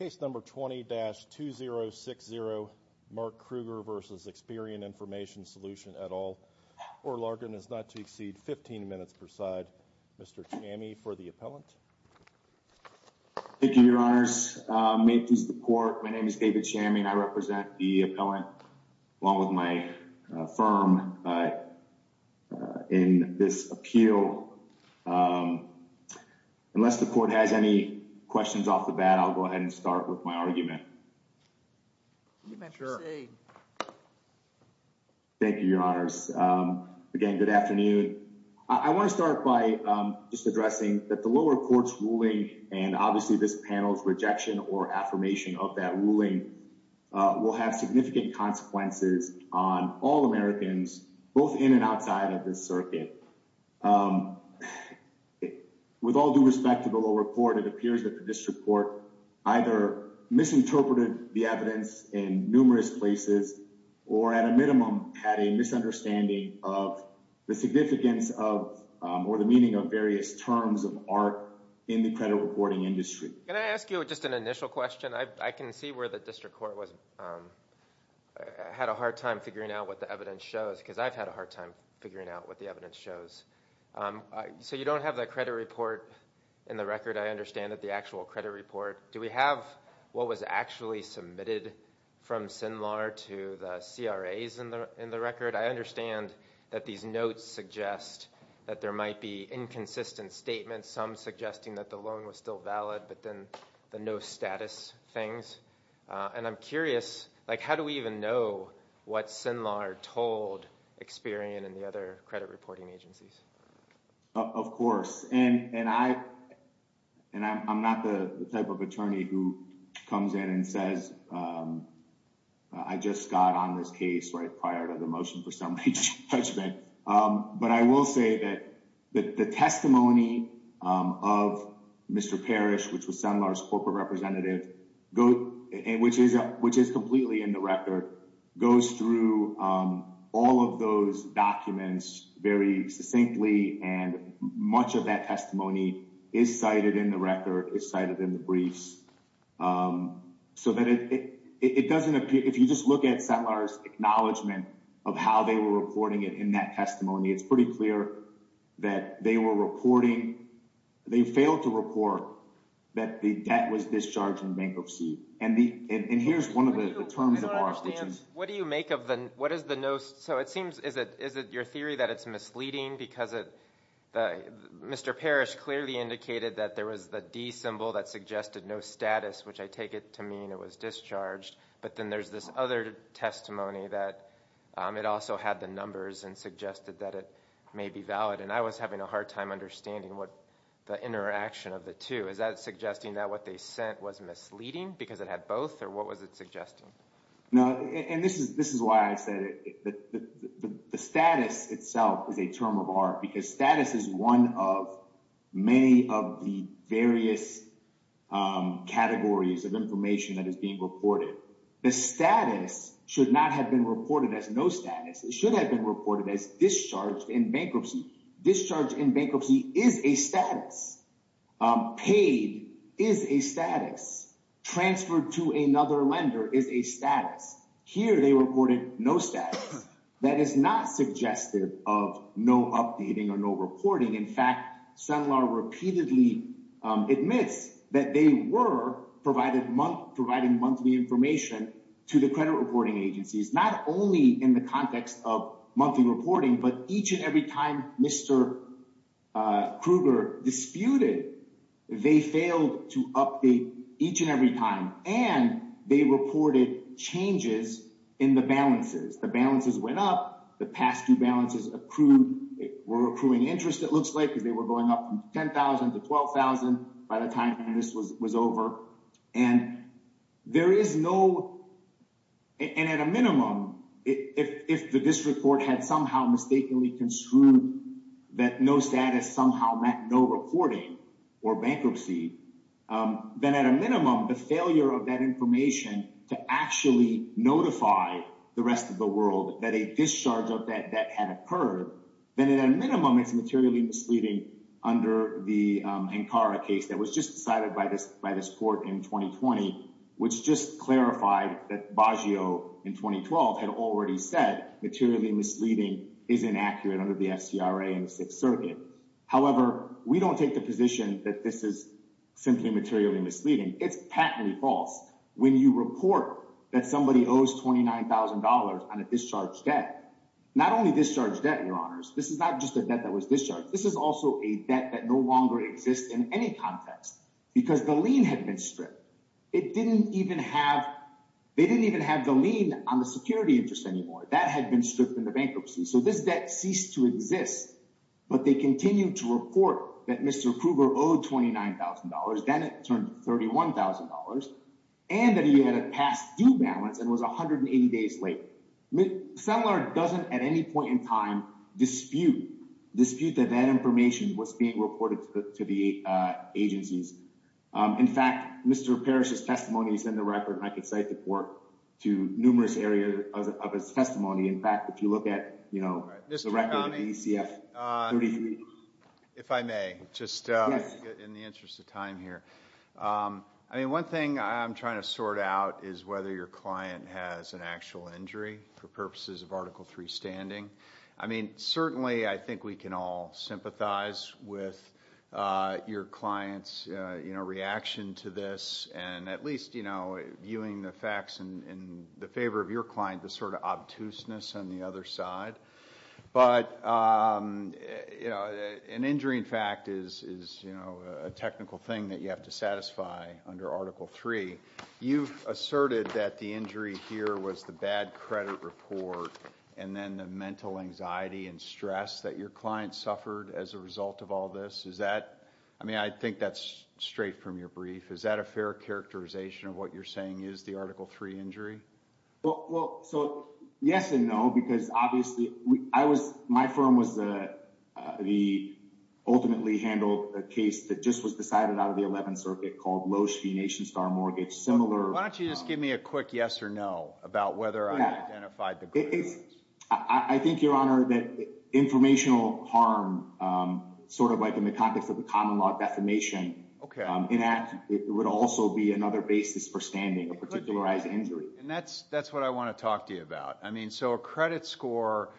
Case number 20-2060 Mark Krueger v. Experian Information Solution et al. Orlargen is not to exceed 15 minutes per side. Mr. Chami for the appellant. Thank you, your honors. May it please the court. My name is David Chami. I represent the appellant along with my firm in this appeal. Unless the court has any questions off the bat, I'll go ahead and start with my argument. Thank you, your honors. Again, good afternoon. I want to start by just addressing that the lower courts ruling and obviously this panel's rejection or affirmation of that ruling will have significant consequences on all Americans, both in and outside of this circuit. With all due respect to the lower court, it appears that district court either misinterpreted the evidence in numerous places or at a minimum had a misunderstanding of the significance of or the meaning of various terms of art in the credit reporting industry. Can I ask you just an initial question? I can see where the district court had a hard time figuring out what the evidence shows because I've had a hard time figuring out what the evidence shows. So you don't have that credit report in the record. I understand that the actual credit report, do we have what was actually submitted from SINLAR to the CRAs in the record? I understand that these notes suggest that there might be inconsistent statements, some suggesting that the loan was still valid, but then the no status things. And I'm curious, like how do we even know what SINLAR told Experian and the other credit reporting agencies? Of course. And I'm not the type of attorney who comes in and says, I just got on this case right prior to the motion for summary judgment. But I will say that the testimony of Mr. Parrish, which was SINLAR's corporate representative, and which is completely in the record, goes through all of those documents very succinctly. And much of that testimony is cited in the record, is cited in the briefs. So that it doesn't appear, if you just look at SINLAR's acknowledgement of how they were reporting it in that testimony, it's pretty clear that they were reporting, they failed to report that the debt was discharged in bankruptcy. And here's one of the terms of our statute. What do you make of the, what is the no, so it seems, is it your theory that it's misleading because Mr. Parrish clearly indicated that there was the D symbol that suggested no status, which I take it to mean it was discharged. But then there's this other testimony that it also had the numbers and suggested that it may be valid. And I was having a hard time understanding what the interaction of the two, is that suggesting that what they sent was misleading because it had both, or what was it suggesting? No, and this is why I said the status itself is a term of art, because status is one of many of the various categories of information that is being reported. The status should not have been reported as no status. It should have been reported as discharged in bankruptcy. Discharge in bankruptcy is a status. Paid is a status. Transferred to another lender is a status. Here they reported no status. That is not suggestive of no updating or no reporting. In fact, Sunlar repeatedly admits that they were providing monthly information to the credit reporting agencies, not only in the context of monthly reporting, but each and every time Mr. Krueger disputed, they failed to update each and every time. And they reported changes in the balances. The balances went up. The past two balances were accruing interest, it looks like, because they were going up from $10,000 to $12,000 by the time this was over. And at a minimum, if the district court had somehow mistakenly construed that no status somehow meant no reporting or bankruptcy, then at a minimum, the failure of that information to actually notify the rest of the world that a discharge of that debt had occurred, then at a minimum, it's materially misleading under the Ankara case that was just decided by this court in 2020, which just clarified that Baggio in 2012 had already said materially misleading is inaccurate under the FCRA and the Sixth Circuit. However, we don't take the position that this is simply materially misleading. It's patently false. When you report that somebody owes $29,000 on a discharge debt, not only discharge debt, Your Honors, this is not just a debt that any context, because the lien had been stripped. It didn't even have, they didn't even have the lien on the security interest anymore. That had been stripped in the bankruptcy. So this debt ceased to exist, but they continue to report that Mr. Krueger owed $29,000, then it turned $31,000, and that he had a past due balance and was 180 days late. Settler doesn't at any point in time dispute, dispute that that information was being reported to the agencies. In fact, Mr. Parrish's testimony is in the record, and I could cite the court to numerous areas of his testimony. In fact, if you look at, you know, the record of ECF 33. If I may, just in the interest of time here, I mean, one thing I'm trying to sort out is whether your client has an actual injury for purposes of Article III standing. I mean, certainly, I think we can all sympathize with your client's, you know, reaction to this and at least, you know, viewing the facts in the favor of your client, the sort of obtuseness on the other side. But, you know, an injury, in fact, is, you know, a technical thing that you have to satisfy under Article III. You've asserted that the injury here was the bad credit report and then the mental anxiety and stress that your client suffered as a result of all this. Is that, I mean, I think that's straight from your brief. Is that a fair characterization of what you're saying is the Article III injury? Well, so yes and no, because obviously, I was, my firm was the ultimately handled a case that just was decided out of the 11th circuit called Loesch v. Nation Star Mortgage, similar. Why don't you just give me a quick yes or no about whether I identified the credit. I think, Your Honor, that informational harm, sort of like in the context of the common law defamation, in that it would also be another basis for standing a particularized injury. And that's what I want to talk to you about. I mean, so a credit score,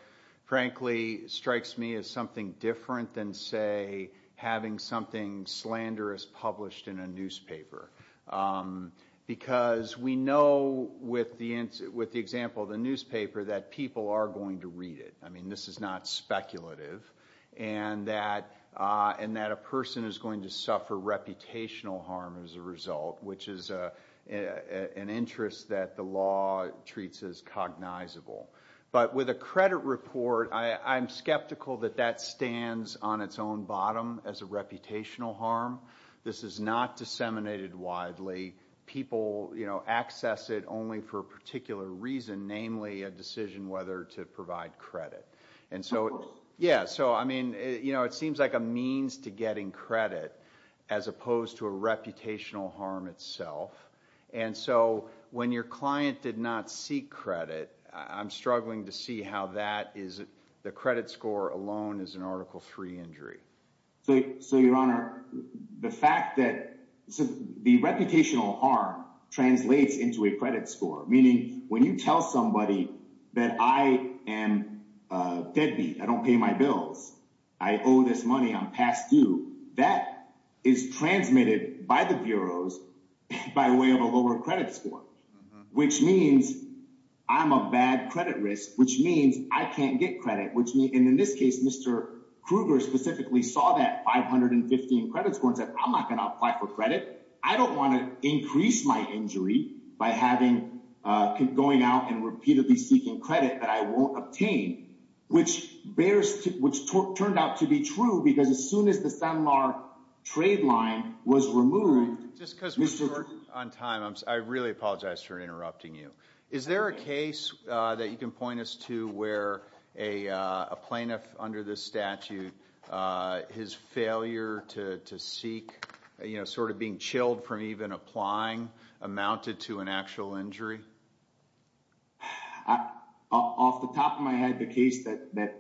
frankly, strikes me as something different than, say, having something slanderous published in a with the example of the newspaper that people are going to read it. I mean, this is not speculative. And that a person is going to suffer reputational harm as a result, which is an interest that the law treats as cognizable. But with a credit report, I'm skeptical that that stands on its own bottom as a reputational harm. This is not disseminated widely. People, you know, namely a decision whether to provide credit. And so, yeah, so I mean, you know, it seems like a means to getting credit as opposed to a reputational harm itself. And so when your client did not seek credit, I'm struggling to see how that is. The credit score alone is an Article 3 injury. So, Your Honor, the fact that the reputational harm translates into a credit score, meaning you tell somebody that I am deadbeat, I don't pay my bills, I owe this money, I'm past due, that is transmitted by the bureaus by way of a lower credit score, which means I'm a bad credit risk, which means I can't get credit, which means in this case, Mr. Kruger specifically saw that 515 credit score and said, I'm not going to apply for credit. I don't want to increase my injury by having, going out and repeatedly seeking credit that I won't obtain, which bears, which turned out to be true because as soon as the Sanmar trade line was removed. Just because we're short on time, I really apologize for interrupting you. Is there a case that you can point us to where a plaintiff under this statute, his failure to seek, sort of being chilled from even applying, amounted to an actual injury? Off the top of my head, the case that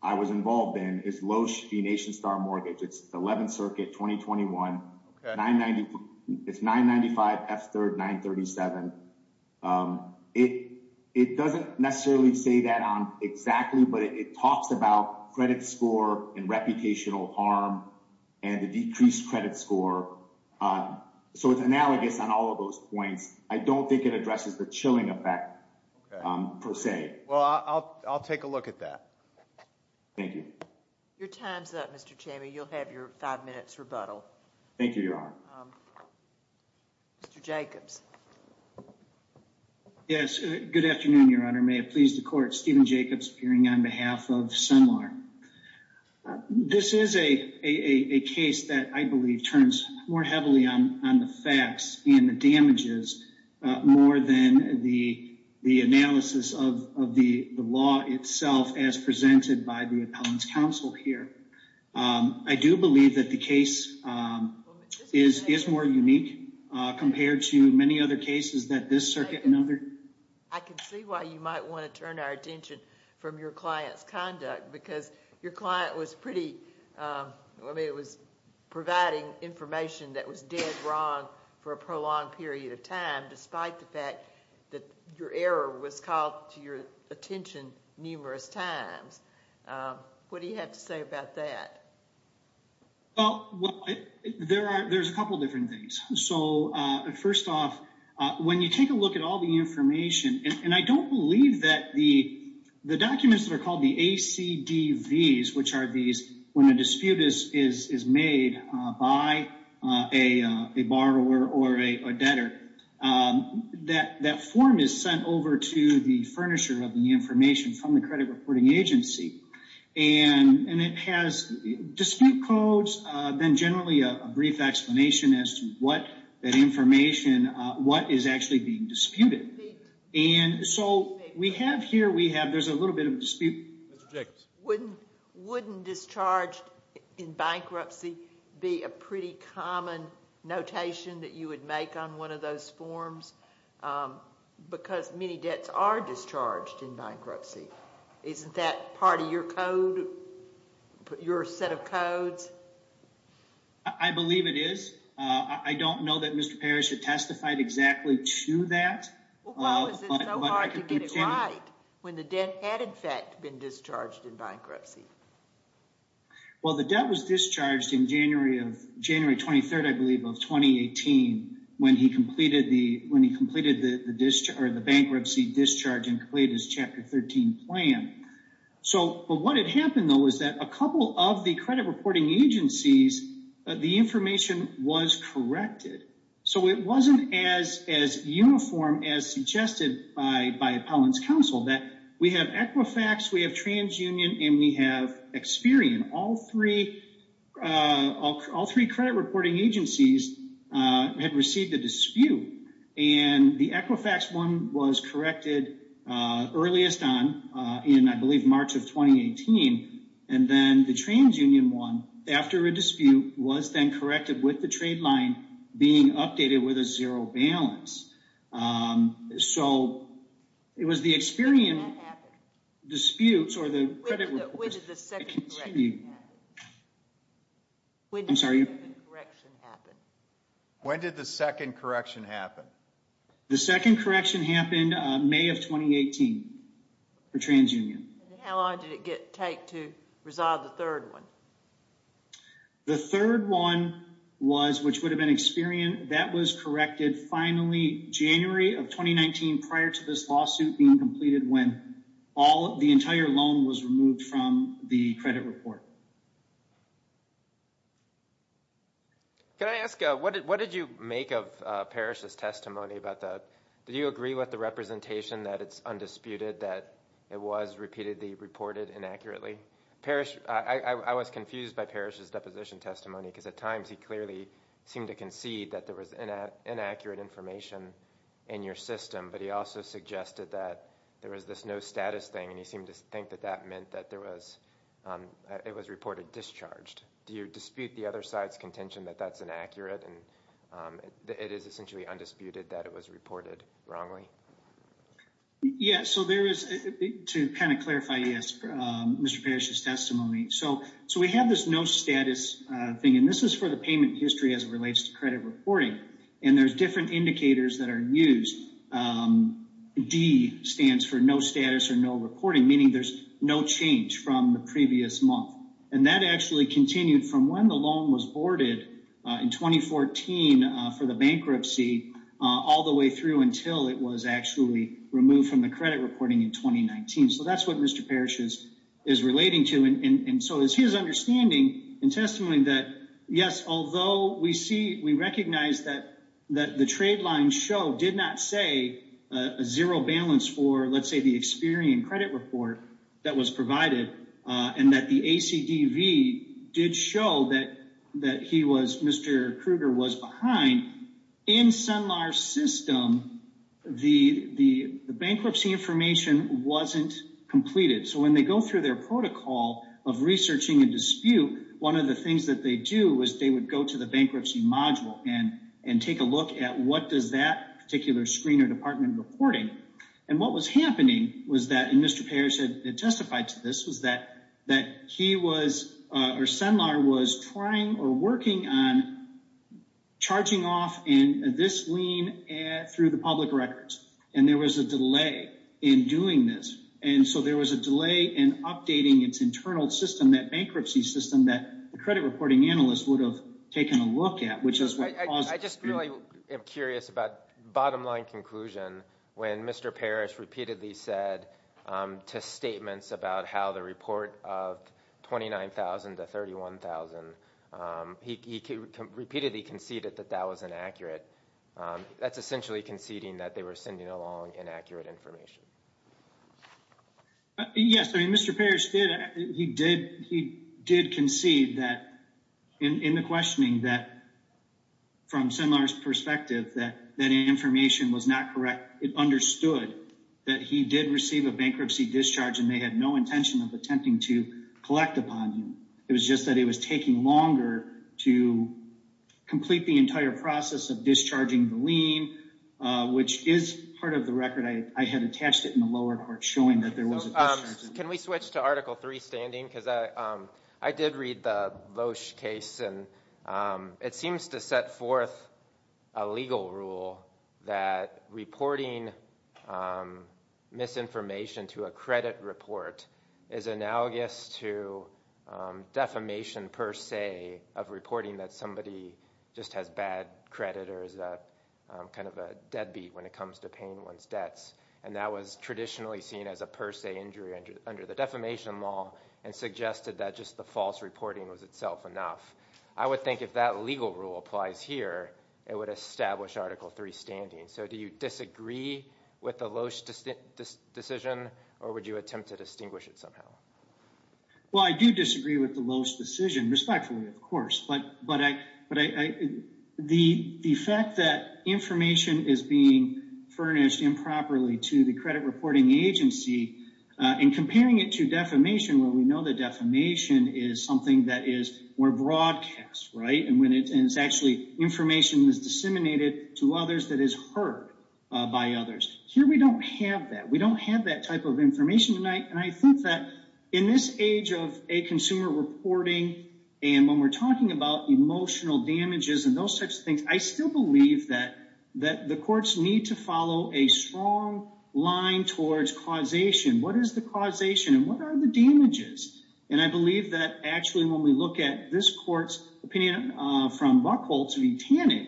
I was involved in is Loesch v. Nation Star Mortgage. It's 11th Circuit, 2021. It's 995 F3rd 937. It doesn't necessarily say that on exactly, but it talks about credit score and reputational harm and the decreased credit score. So it's analogous on all of those points. I don't think it addresses the chilling effect per se. Well, I'll take a look at that. Thank you. Your time's up, Mr. Chami. You'll have your five minutes rebuttal. Thank you, Your Honor. Mr. Jacobs. Yes. Good afternoon, Your Honor. May it please the Court. Stephen Jacobs appearing on behalf of Sanmar. This is a case that I believe turns more heavily on the facts and the damages more than the analysis of the law itself as presented by the Appellant's Counsel here. I do believe that the case is more unique compared to many other cases that this circuit and other... I can see why you might want to turn our attention from your client's conduct because your client was pretty... I mean, it was providing information that was dead wrong for a prolonged period of time despite the fact that your error was called to your attention numerous times. What do you have to say about that? Well, there's a couple of different things. So first off, when you take a look at all the information, and I don't believe that the documents that are called the ACDVs, which are these when a dispute is made by a borrower or a debtor, that form is sent over to the furnisher of the dispute codes, then generally a brief explanation as to what that information, what is actually being disputed. And so we have here, we have, there's a little bit of dispute. Wouldn't discharged in bankruptcy be a pretty common notation that you would make on one of those forms? Because many debts are discharged in bankruptcy. Isn't that part of your code, put your set of codes? I believe it is. I don't know that Mr. Parrish had testified exactly to that. Well, why was it so hard to get it right when the debt had in fact been discharged in bankruptcy? Well, the debt was discharged in January of, January 23rd, I believe, of 2018 when he completed the, when he completed the discharge or the bankruptcy discharge and completed his Chapter 13 plan. So, but what had happened though, is that a couple of the credit reporting agencies, the information was corrected. So it wasn't as, as uniform as suggested by, by Appellant's Council that we have Equifax, we have TransUnion, and we have Experian. All three, all three credit reporting agencies had received a dispute. And the Equifax one was corrected earliest on in, I believe, March of 2018. And then the TransUnion one, after a dispute, was then corrected with the trade line being updated with a zero balance. So it was the Experian disputes or the credit. When did the second correction happen? The second correction happened May of 2018 for TransUnion. How long did it get, take to resolve the third one? The third one was, which would have been Experian, that was corrected finally January of 2019 prior to this lawsuit being completed when all of the entire loan was removed from the credit report. Can I ask, what did, what did you make of Parrish's testimony about the, did you agree with the representation that it's undisputed, that it was repeatedly reported inaccurately? Parrish, I was confused by Parrish's deposition testimony because at times he clearly seemed to concede that there was inaccurate information in your system, but he also suggested that there was this no status thing and he seemed to think that that meant that there was, it was reported discharged. Do you dispute the other side's contention that that's inaccurate and it is essentially undisputed that it was reported wrongly? Yeah, so there is, to kind of clarify, yes, Mr. Parrish's testimony. So we have this no status thing and this is for the payment history as it relates to credit reporting and there's different indicators that are used. D stands for no status or no reporting, meaning there's no change from the previous month and that actually continued from when the loan was boarded in 2014 for the bankruptcy all the way through until it was actually removed from the credit reporting in that. Yes, although we see, we recognize that the trade line show did not say a zero balance for, let's say, the Experian credit report that was provided and that the ACDV did show that he was, Mr. Kruger was behind. In Sunlar's system, the bankruptcy information wasn't completed. So when they go through their protocol of researching and dispute, one of the things that they do was they would go to the bankruptcy module and take a look at what does that particular screener department reporting. And what was happening was that, and Mr. Parrish had testified to this, was that he was, or Sunlar was trying or working on charging off in this lien through the public records. And there was a delay in doing this. And so there was a delay in updating its internal system, that bankruptcy system that the credit reporting analyst would have taken a look at, which is what caused. I just really am curious about bottom line conclusion when Mr. Parrish repeatedly said to statements about how the report of 29,000 to 31,000, he repeatedly conceded that that was inaccurate. That's essentially conceding that they were sending along inaccurate information. Yes. I mean, Mr. Parrish, he did concede that in the questioning that from Sunlar's perspective, that information was not correct. It understood that he did receive a bankruptcy discharge and they had no intention of attempting to collect upon him. It was just that it was taking longer to complete the entire process of discharging the lien, which is part of the record. I had attached it in the lower part showing that there was a discharge. Can we switch to article three standing? Because I did read the Loesch case and it seems to set forth a legal rule that reporting misinformation to a credit report is analogous to defamation per se of reporting that somebody just has bad credit or is kind of a deadbeat when it comes to paying one's debts. That was traditionally seen as a per se injury under the defamation law and suggested that just the false reporting was itself enough. I would think if that legal rule applies here, it would establish article three standing. Do you attempt to distinguish it somehow? Well, I do disagree with the Loesch decision, respectfully, of course. But the fact that information is being furnished improperly to the credit reporting agency and comparing it to defamation, where we know that defamation is something that is more broadcast, right? And when it's actually information that's disseminated to others that is heard by others. Here we don't have that. We don't have that type of information tonight. And I think that in this age of a consumer reporting and when we're talking about emotional damages and those types of things, I still believe that the courts need to follow a strong line towards causation. What is the causation and what are the damages? And I believe that actually when we look at this court's opinion from Buchholz v. Tanning,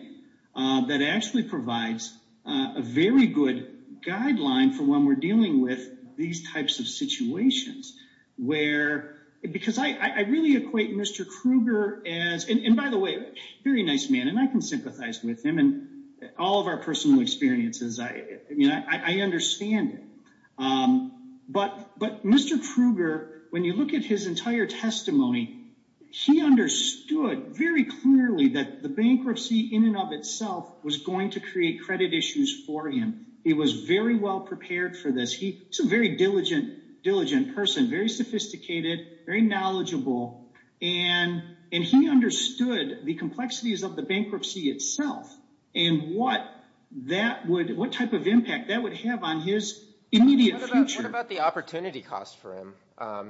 that actually provides a very good guideline for when we're dealing with these types of situations. Because I really equate Mr. Krueger as, and by the way, very nice man, and I can sympathize with him, and all of our personal experiences, I understand it. But Mr. Krueger, when you look at his entire testimony, he understood very clearly that the bankruptcy in and of itself was going to create credit issues for him. He was very well prepared for this. He's a very diligent person, very sophisticated, very knowledgeable, and he understood the complexities of the bankruptcy itself and what type of impact that would have on his immediate future. What about the opportunity cost for him?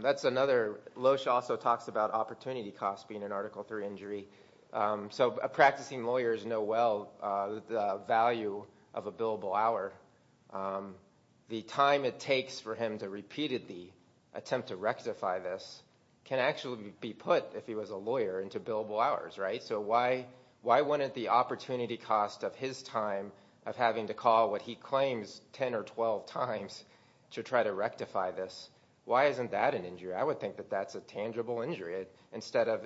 That's another, Loesch also talks about opportunity costs being an Article III injury. So practicing lawyers know well the value of a billable hour. The time it takes for him to repeatedly attempt to rectify this can actually be put, if he was a lawyer, into billable hours, right? So why wouldn't the opportunity cost of his time of having to call what he claims 10 or 12 times to try to rectify this, why isn't that an injury? I would think that that's a tangible injury. Instead of,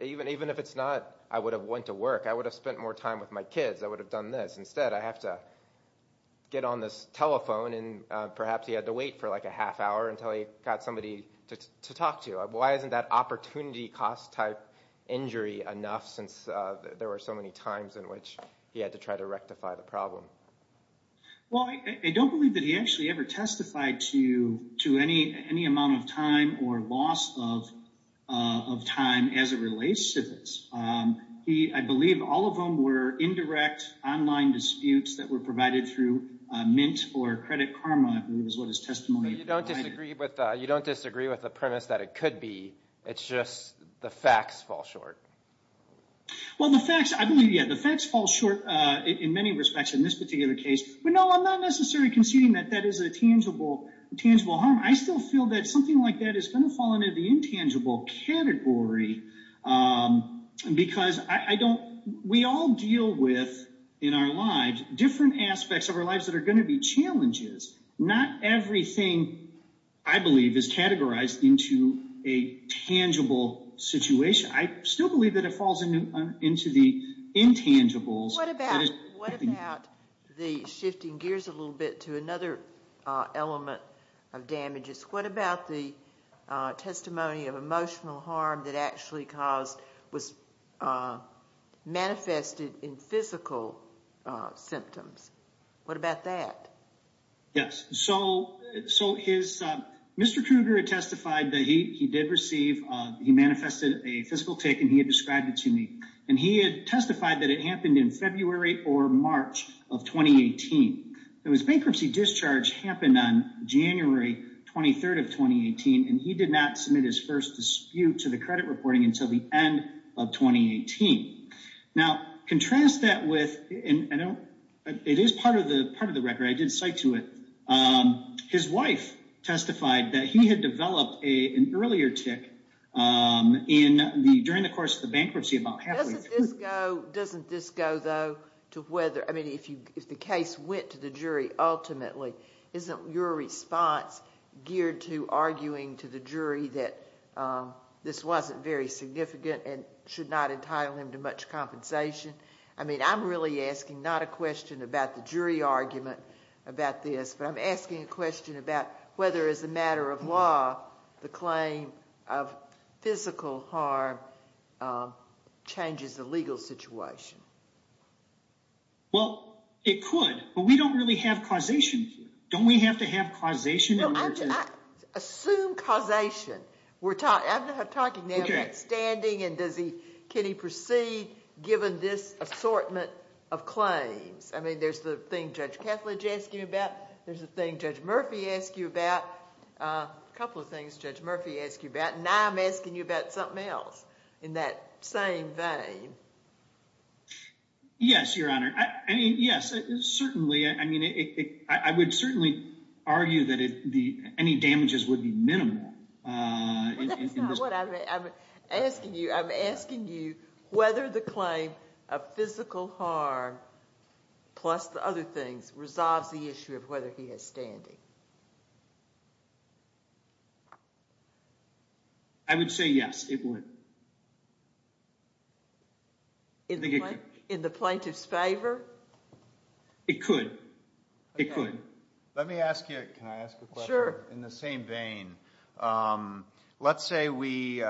even if it's not, I would have went to work, I would have spent more time with my kids, I would have done this. Instead I have to get on this telephone and perhaps he had to wait for like a half hour until he got somebody to talk to. Why isn't that opportunity cost type injury enough since there were so many times in which he had to try to rectify the problem? Well, I don't believe that he actually ever testified to any amount of time or loss of time as it relates to this. I believe all of them were indirect online disputes that were provided through Mint or Credit Karma, I believe is what his testimony was. You don't disagree with the premise that it could be, it's just the facts fall short. Well, the facts, I believe, yeah, the facts fall short in many respects in this particular case, but no, I'm not necessarily conceding that that is a tangible harm. I still feel that something like that is going to fall into the intangible category because we all deal with, in our lives, different aspects of our lives that are going to be challenges. Not everything, I believe, is categorized into a tangible situation. I still believe that it falls into the intangibles. What about the shifting gears a little bit to another element of damages? What about the testimony of emotional harm that actually manifested in physical symptoms? What about that? Yes, so Mr. Kruger testified that he did receive, he manifested a physical tick and he had described it to me. He had testified that it happened in February or March of 2018. His bankruptcy discharge happened on January 23rd of 2018, and he did not submit his first dispute to the credit reporting until the end of 2018. Now, contrast that with, and it is part of the record, I did cite to it, his wife testified that he had developed an earlier tick during the course of the bankruptcy. Doesn't this go though to whether, I mean, if the case went to the jury ultimately, isn't your response geared to arguing to the jury that this wasn't very significant and should not entitle him to much compensation? I mean, I'm really asking not a question about the jury argument about this, but I'm asking a question about whether as a matter of law, the claim of physical harm changes the legal situation. Well, it could, but we don't really have causation here. Don't we have to have causation? Assume causation. I'm talking now about standing and can he proceed given this assortment of claims. I mean, there's the thing Judge Kethledge asked you about. There's the thing Judge Murphy asked you about. A couple of things Judge Murphy asked you about. Now, I'm asking you about something else in that same vein. Yes, Your Honor. I mean, yes, certainly. I mean, I would certainly argue that any damages would be physical harm plus the other things resolves the issue of whether he has standing. I would say yes, it would. In the plaintiff's favor? It could. It could. Let me ask you, can I ask a question? Sure. In the same vein, let's say we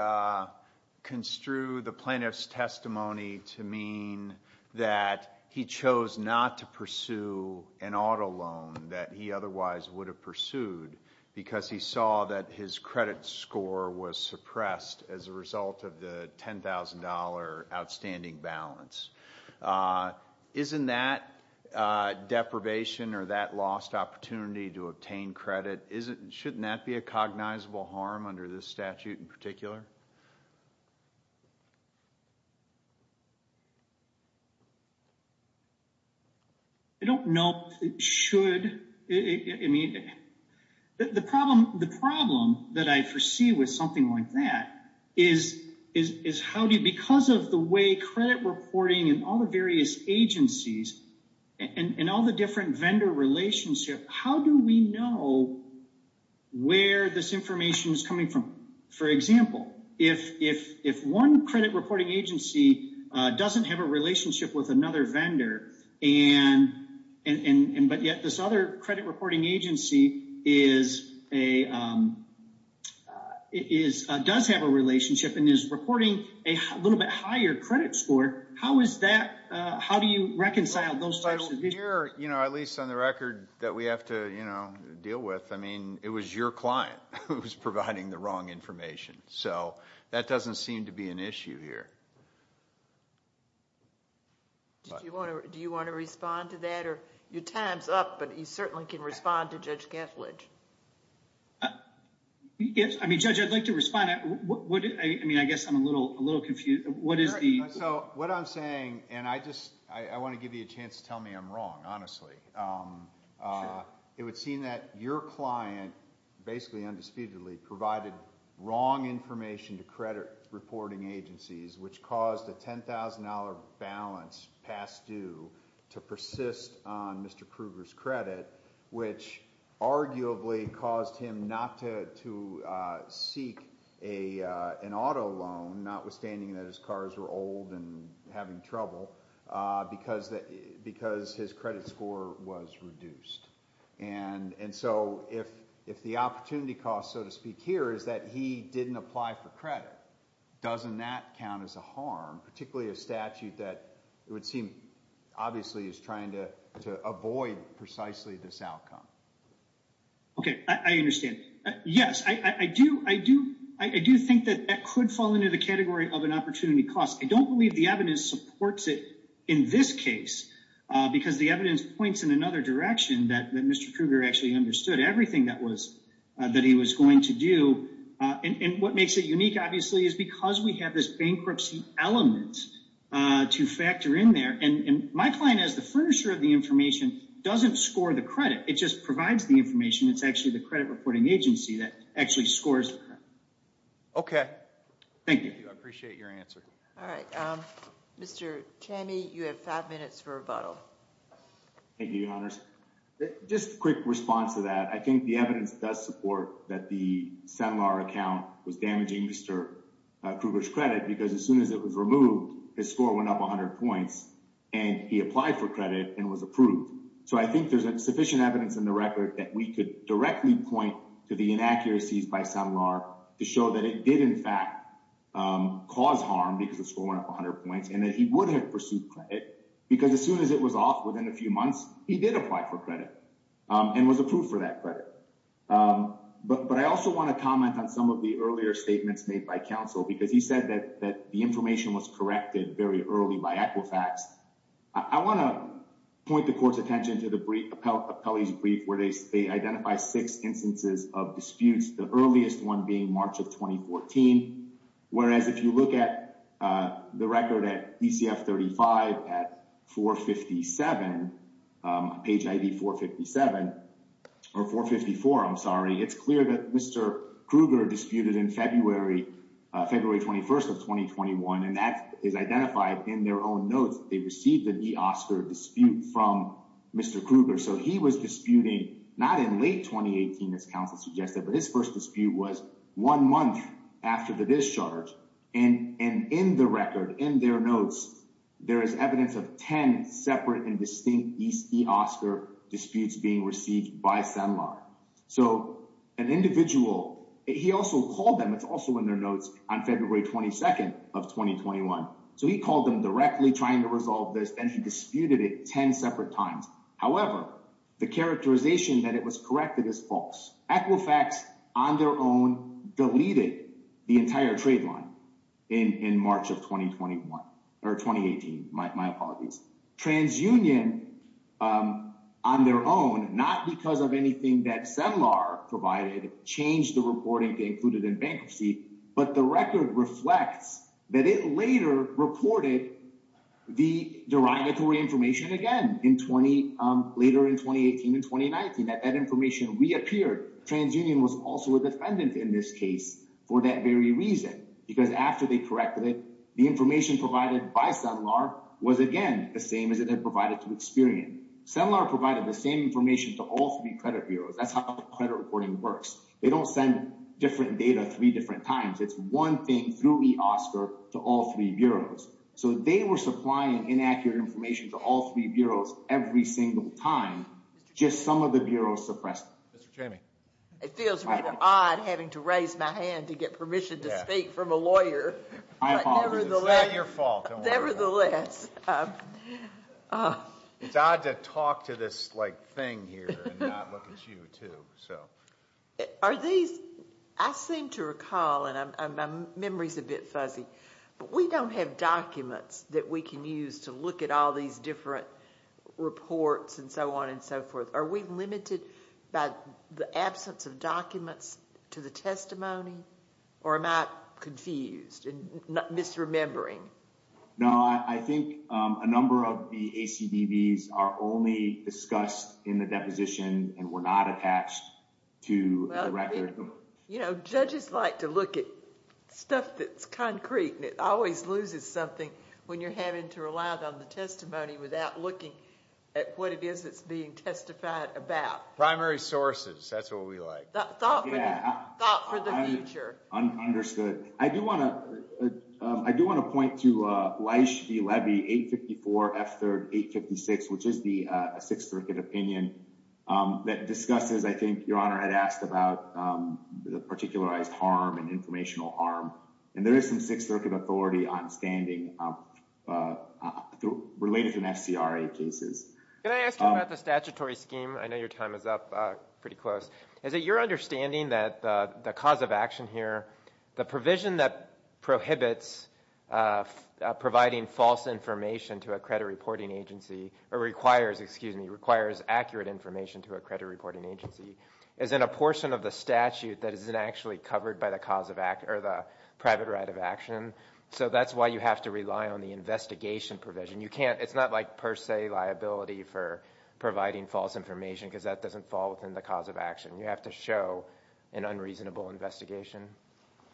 construe the plaintiff's testimony to mean that he chose not to pursue an auto loan that he otherwise would have pursued because he saw that his credit score was suppressed as a result of the $10,000 outstanding balance. Isn't that a cognizable harm under this statute in particular? I don't know if it should. I mean, the problem that I foresee with something like that is how do you, because of the way credit reporting and all the various agencies and all the different relationship, how do we know where this information is coming from? For example, if one credit reporting agency doesn't have a relationship with another vendor, but yet this other credit reporting agency does have a relationship and is reporting a little bit higher credit score, how is that, how do you reconcile those types of issues? At least on the record that we have to deal with, it was your client who was providing the wrong information. That doesn't seem to be an issue here. Do you want to respond to that? Your time's up, but you certainly can respond to Judge Kethledge. I mean, Judge, I'd like to respond. I guess I'm a little confused. So what I'm saying, and I want to give you a chance to tell me I'm wrong, honestly. It would seem that your client basically undisputedly provided wrong information to credit reporting agencies, which caused a $10,000 balance past due to persist on Mr. Kruger's credit, which arguably caused him not to seek an auto loan, notwithstanding that his cars were old and having trouble, because his credit score was reduced. And so if the opportunity cost, so to speak, here is that he didn't apply for credit, doesn't that count as a harm, particularly a statute that it would seem obviously is trying to avoid precisely this outcome? Okay, I understand. Yes, I do think that that could fall into the category of an opportunity cost. I don't believe the evidence supports it in this case, because the evidence points in another direction that Mr. Kruger actually understood everything that he was going to do. And what this bankruptcy element to factor in there, and my client as the furnisher of the information doesn't score the credit. It just provides the information. It's actually the credit reporting agency that actually scores. Okay. Thank you. I appreciate your answer. All right. Mr. Chami, you have five minutes for rebuttal. Thank you, Your Honors. Just a quick response to that. I Mr. Kruger's credit, because as soon as it was removed, his score went up 100 points and he applied for credit and was approved. So I think there's sufficient evidence in the record that we could directly point to the inaccuracies by Sunlar to show that it did in fact cause harm because the score went up 100 points and that he would have pursued credit because as soon as it was off within a few months, he did apply for credit and was approved for that credit. But I also want to comment on some of the earlier statements made by counsel, because he said that the information was corrected very early by Equifax. I want to point the court's attention to the brief appellee's brief where they identify six instances of disputes. The earliest one being March of 2014. Whereas if you look at the record at DCF 35 at 457, page ID 457 or 454, I'm sorry, it's clear that Mr. Kruger disputed in February, February 21st of 2021. And that is identified in their own notes. They received an eOscar dispute from Mr. Kruger. So he was disputing not in late 2018 as counsel suggested, but his first dispute was one month after the discharge. And in the record, in their notes, there is evidence of 10 separate and distinct eOscar disputes being received by SEMLR. So an individual, he also called them, it's also in their notes on February 22nd of 2021. So he called them directly trying to resolve this and he disputed it 10 separate times. However, the characterization that it was corrected is false. Equifax on their own deleted the entire trade line in March of 2021, or 2018, my apologies. TransUnion on their own, not because of anything that SEMLR provided, changed the reporting to include it in bankruptcy, but the record reflects that it later reported the derogatory information again in 20, later in 2018 and 2019, that that information reappeared. TransUnion was also a defendant in this case for that very reason, because after they corrected it, the information provided by SEMLR was again, the same as it had provided to Experian. SEMLR provided the same information to all three credit bureaus. That's how the credit reporting works. They don't send different data three different times. It's one thing through eOscar to all three bureaus. So they were supplying inaccurate information to all three bureaus every single time, just some of the bureaus suppressed. Mr. Chamey. It feels really odd having to raise my hand to get permission to speak from a lawyer. It's not your fault. Nevertheless. It's odd to talk to this like thing here and not look at you too, so. Are these, I seem to recall and my memory's a bit fuzzy, but we don't have documents that we can use to look at all these different reports and so on and so forth. Are we limited by the absence of documents to the testimony or am I confused and misremembering? No, I think a number of the ACDBs are only discussed in the deposition and were not attached to the record. You know, judges like to look at stuff that's concrete and it always loses something when you're having to rely on the testimony without looking at what it is that's being testified about. Primary sources. That's what we like. Thought for the future. I'm understood. I do want to point to Leisch v. Levy 854 F3rd 856, which is the Sixth Circuit opinion that discusses, I think Your Honor had asked about, the particularized harm and informational harm. And there is some Sixth Circuit authority on standing related to FCRA cases. Can I ask you about the statutory scheme? I know your time is up pretty close. Is it your understanding that the cause of action here, the provision that prohibits providing false information to a credit reporting agency or requires, excuse me, requires accurate information to a credit reporting agency is in a portion of the statute that isn't actually covered by the cause of act or the private right of action. So that's why you have to rely on the investigation provision. It's not like per se liability for providing false information, because that doesn't fall within the cause of action. You have to show an unreasonable investigation.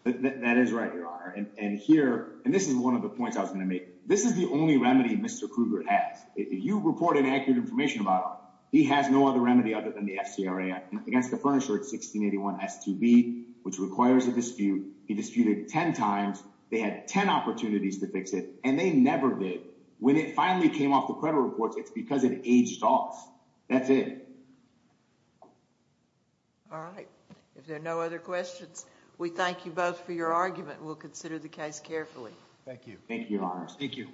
That is right, Your Honor. And here, and this is one of the points I was going to make. This is the only remedy Mr. Kruger has. If you report inaccurate information about him, he has no other remedy other than the FCRA Act. Against the Furniture Act 1681 S2B, which requires a dispute. He disputed 10 times. They had 10 opportunities to fix it. And they never did. When it finally came off the credit reports, it's because it aged off. That's it. All right. If there are no other questions, we thank you both for your argument. We'll consider the case carefully. Thank you. Thank you, Your Honor. Thank you.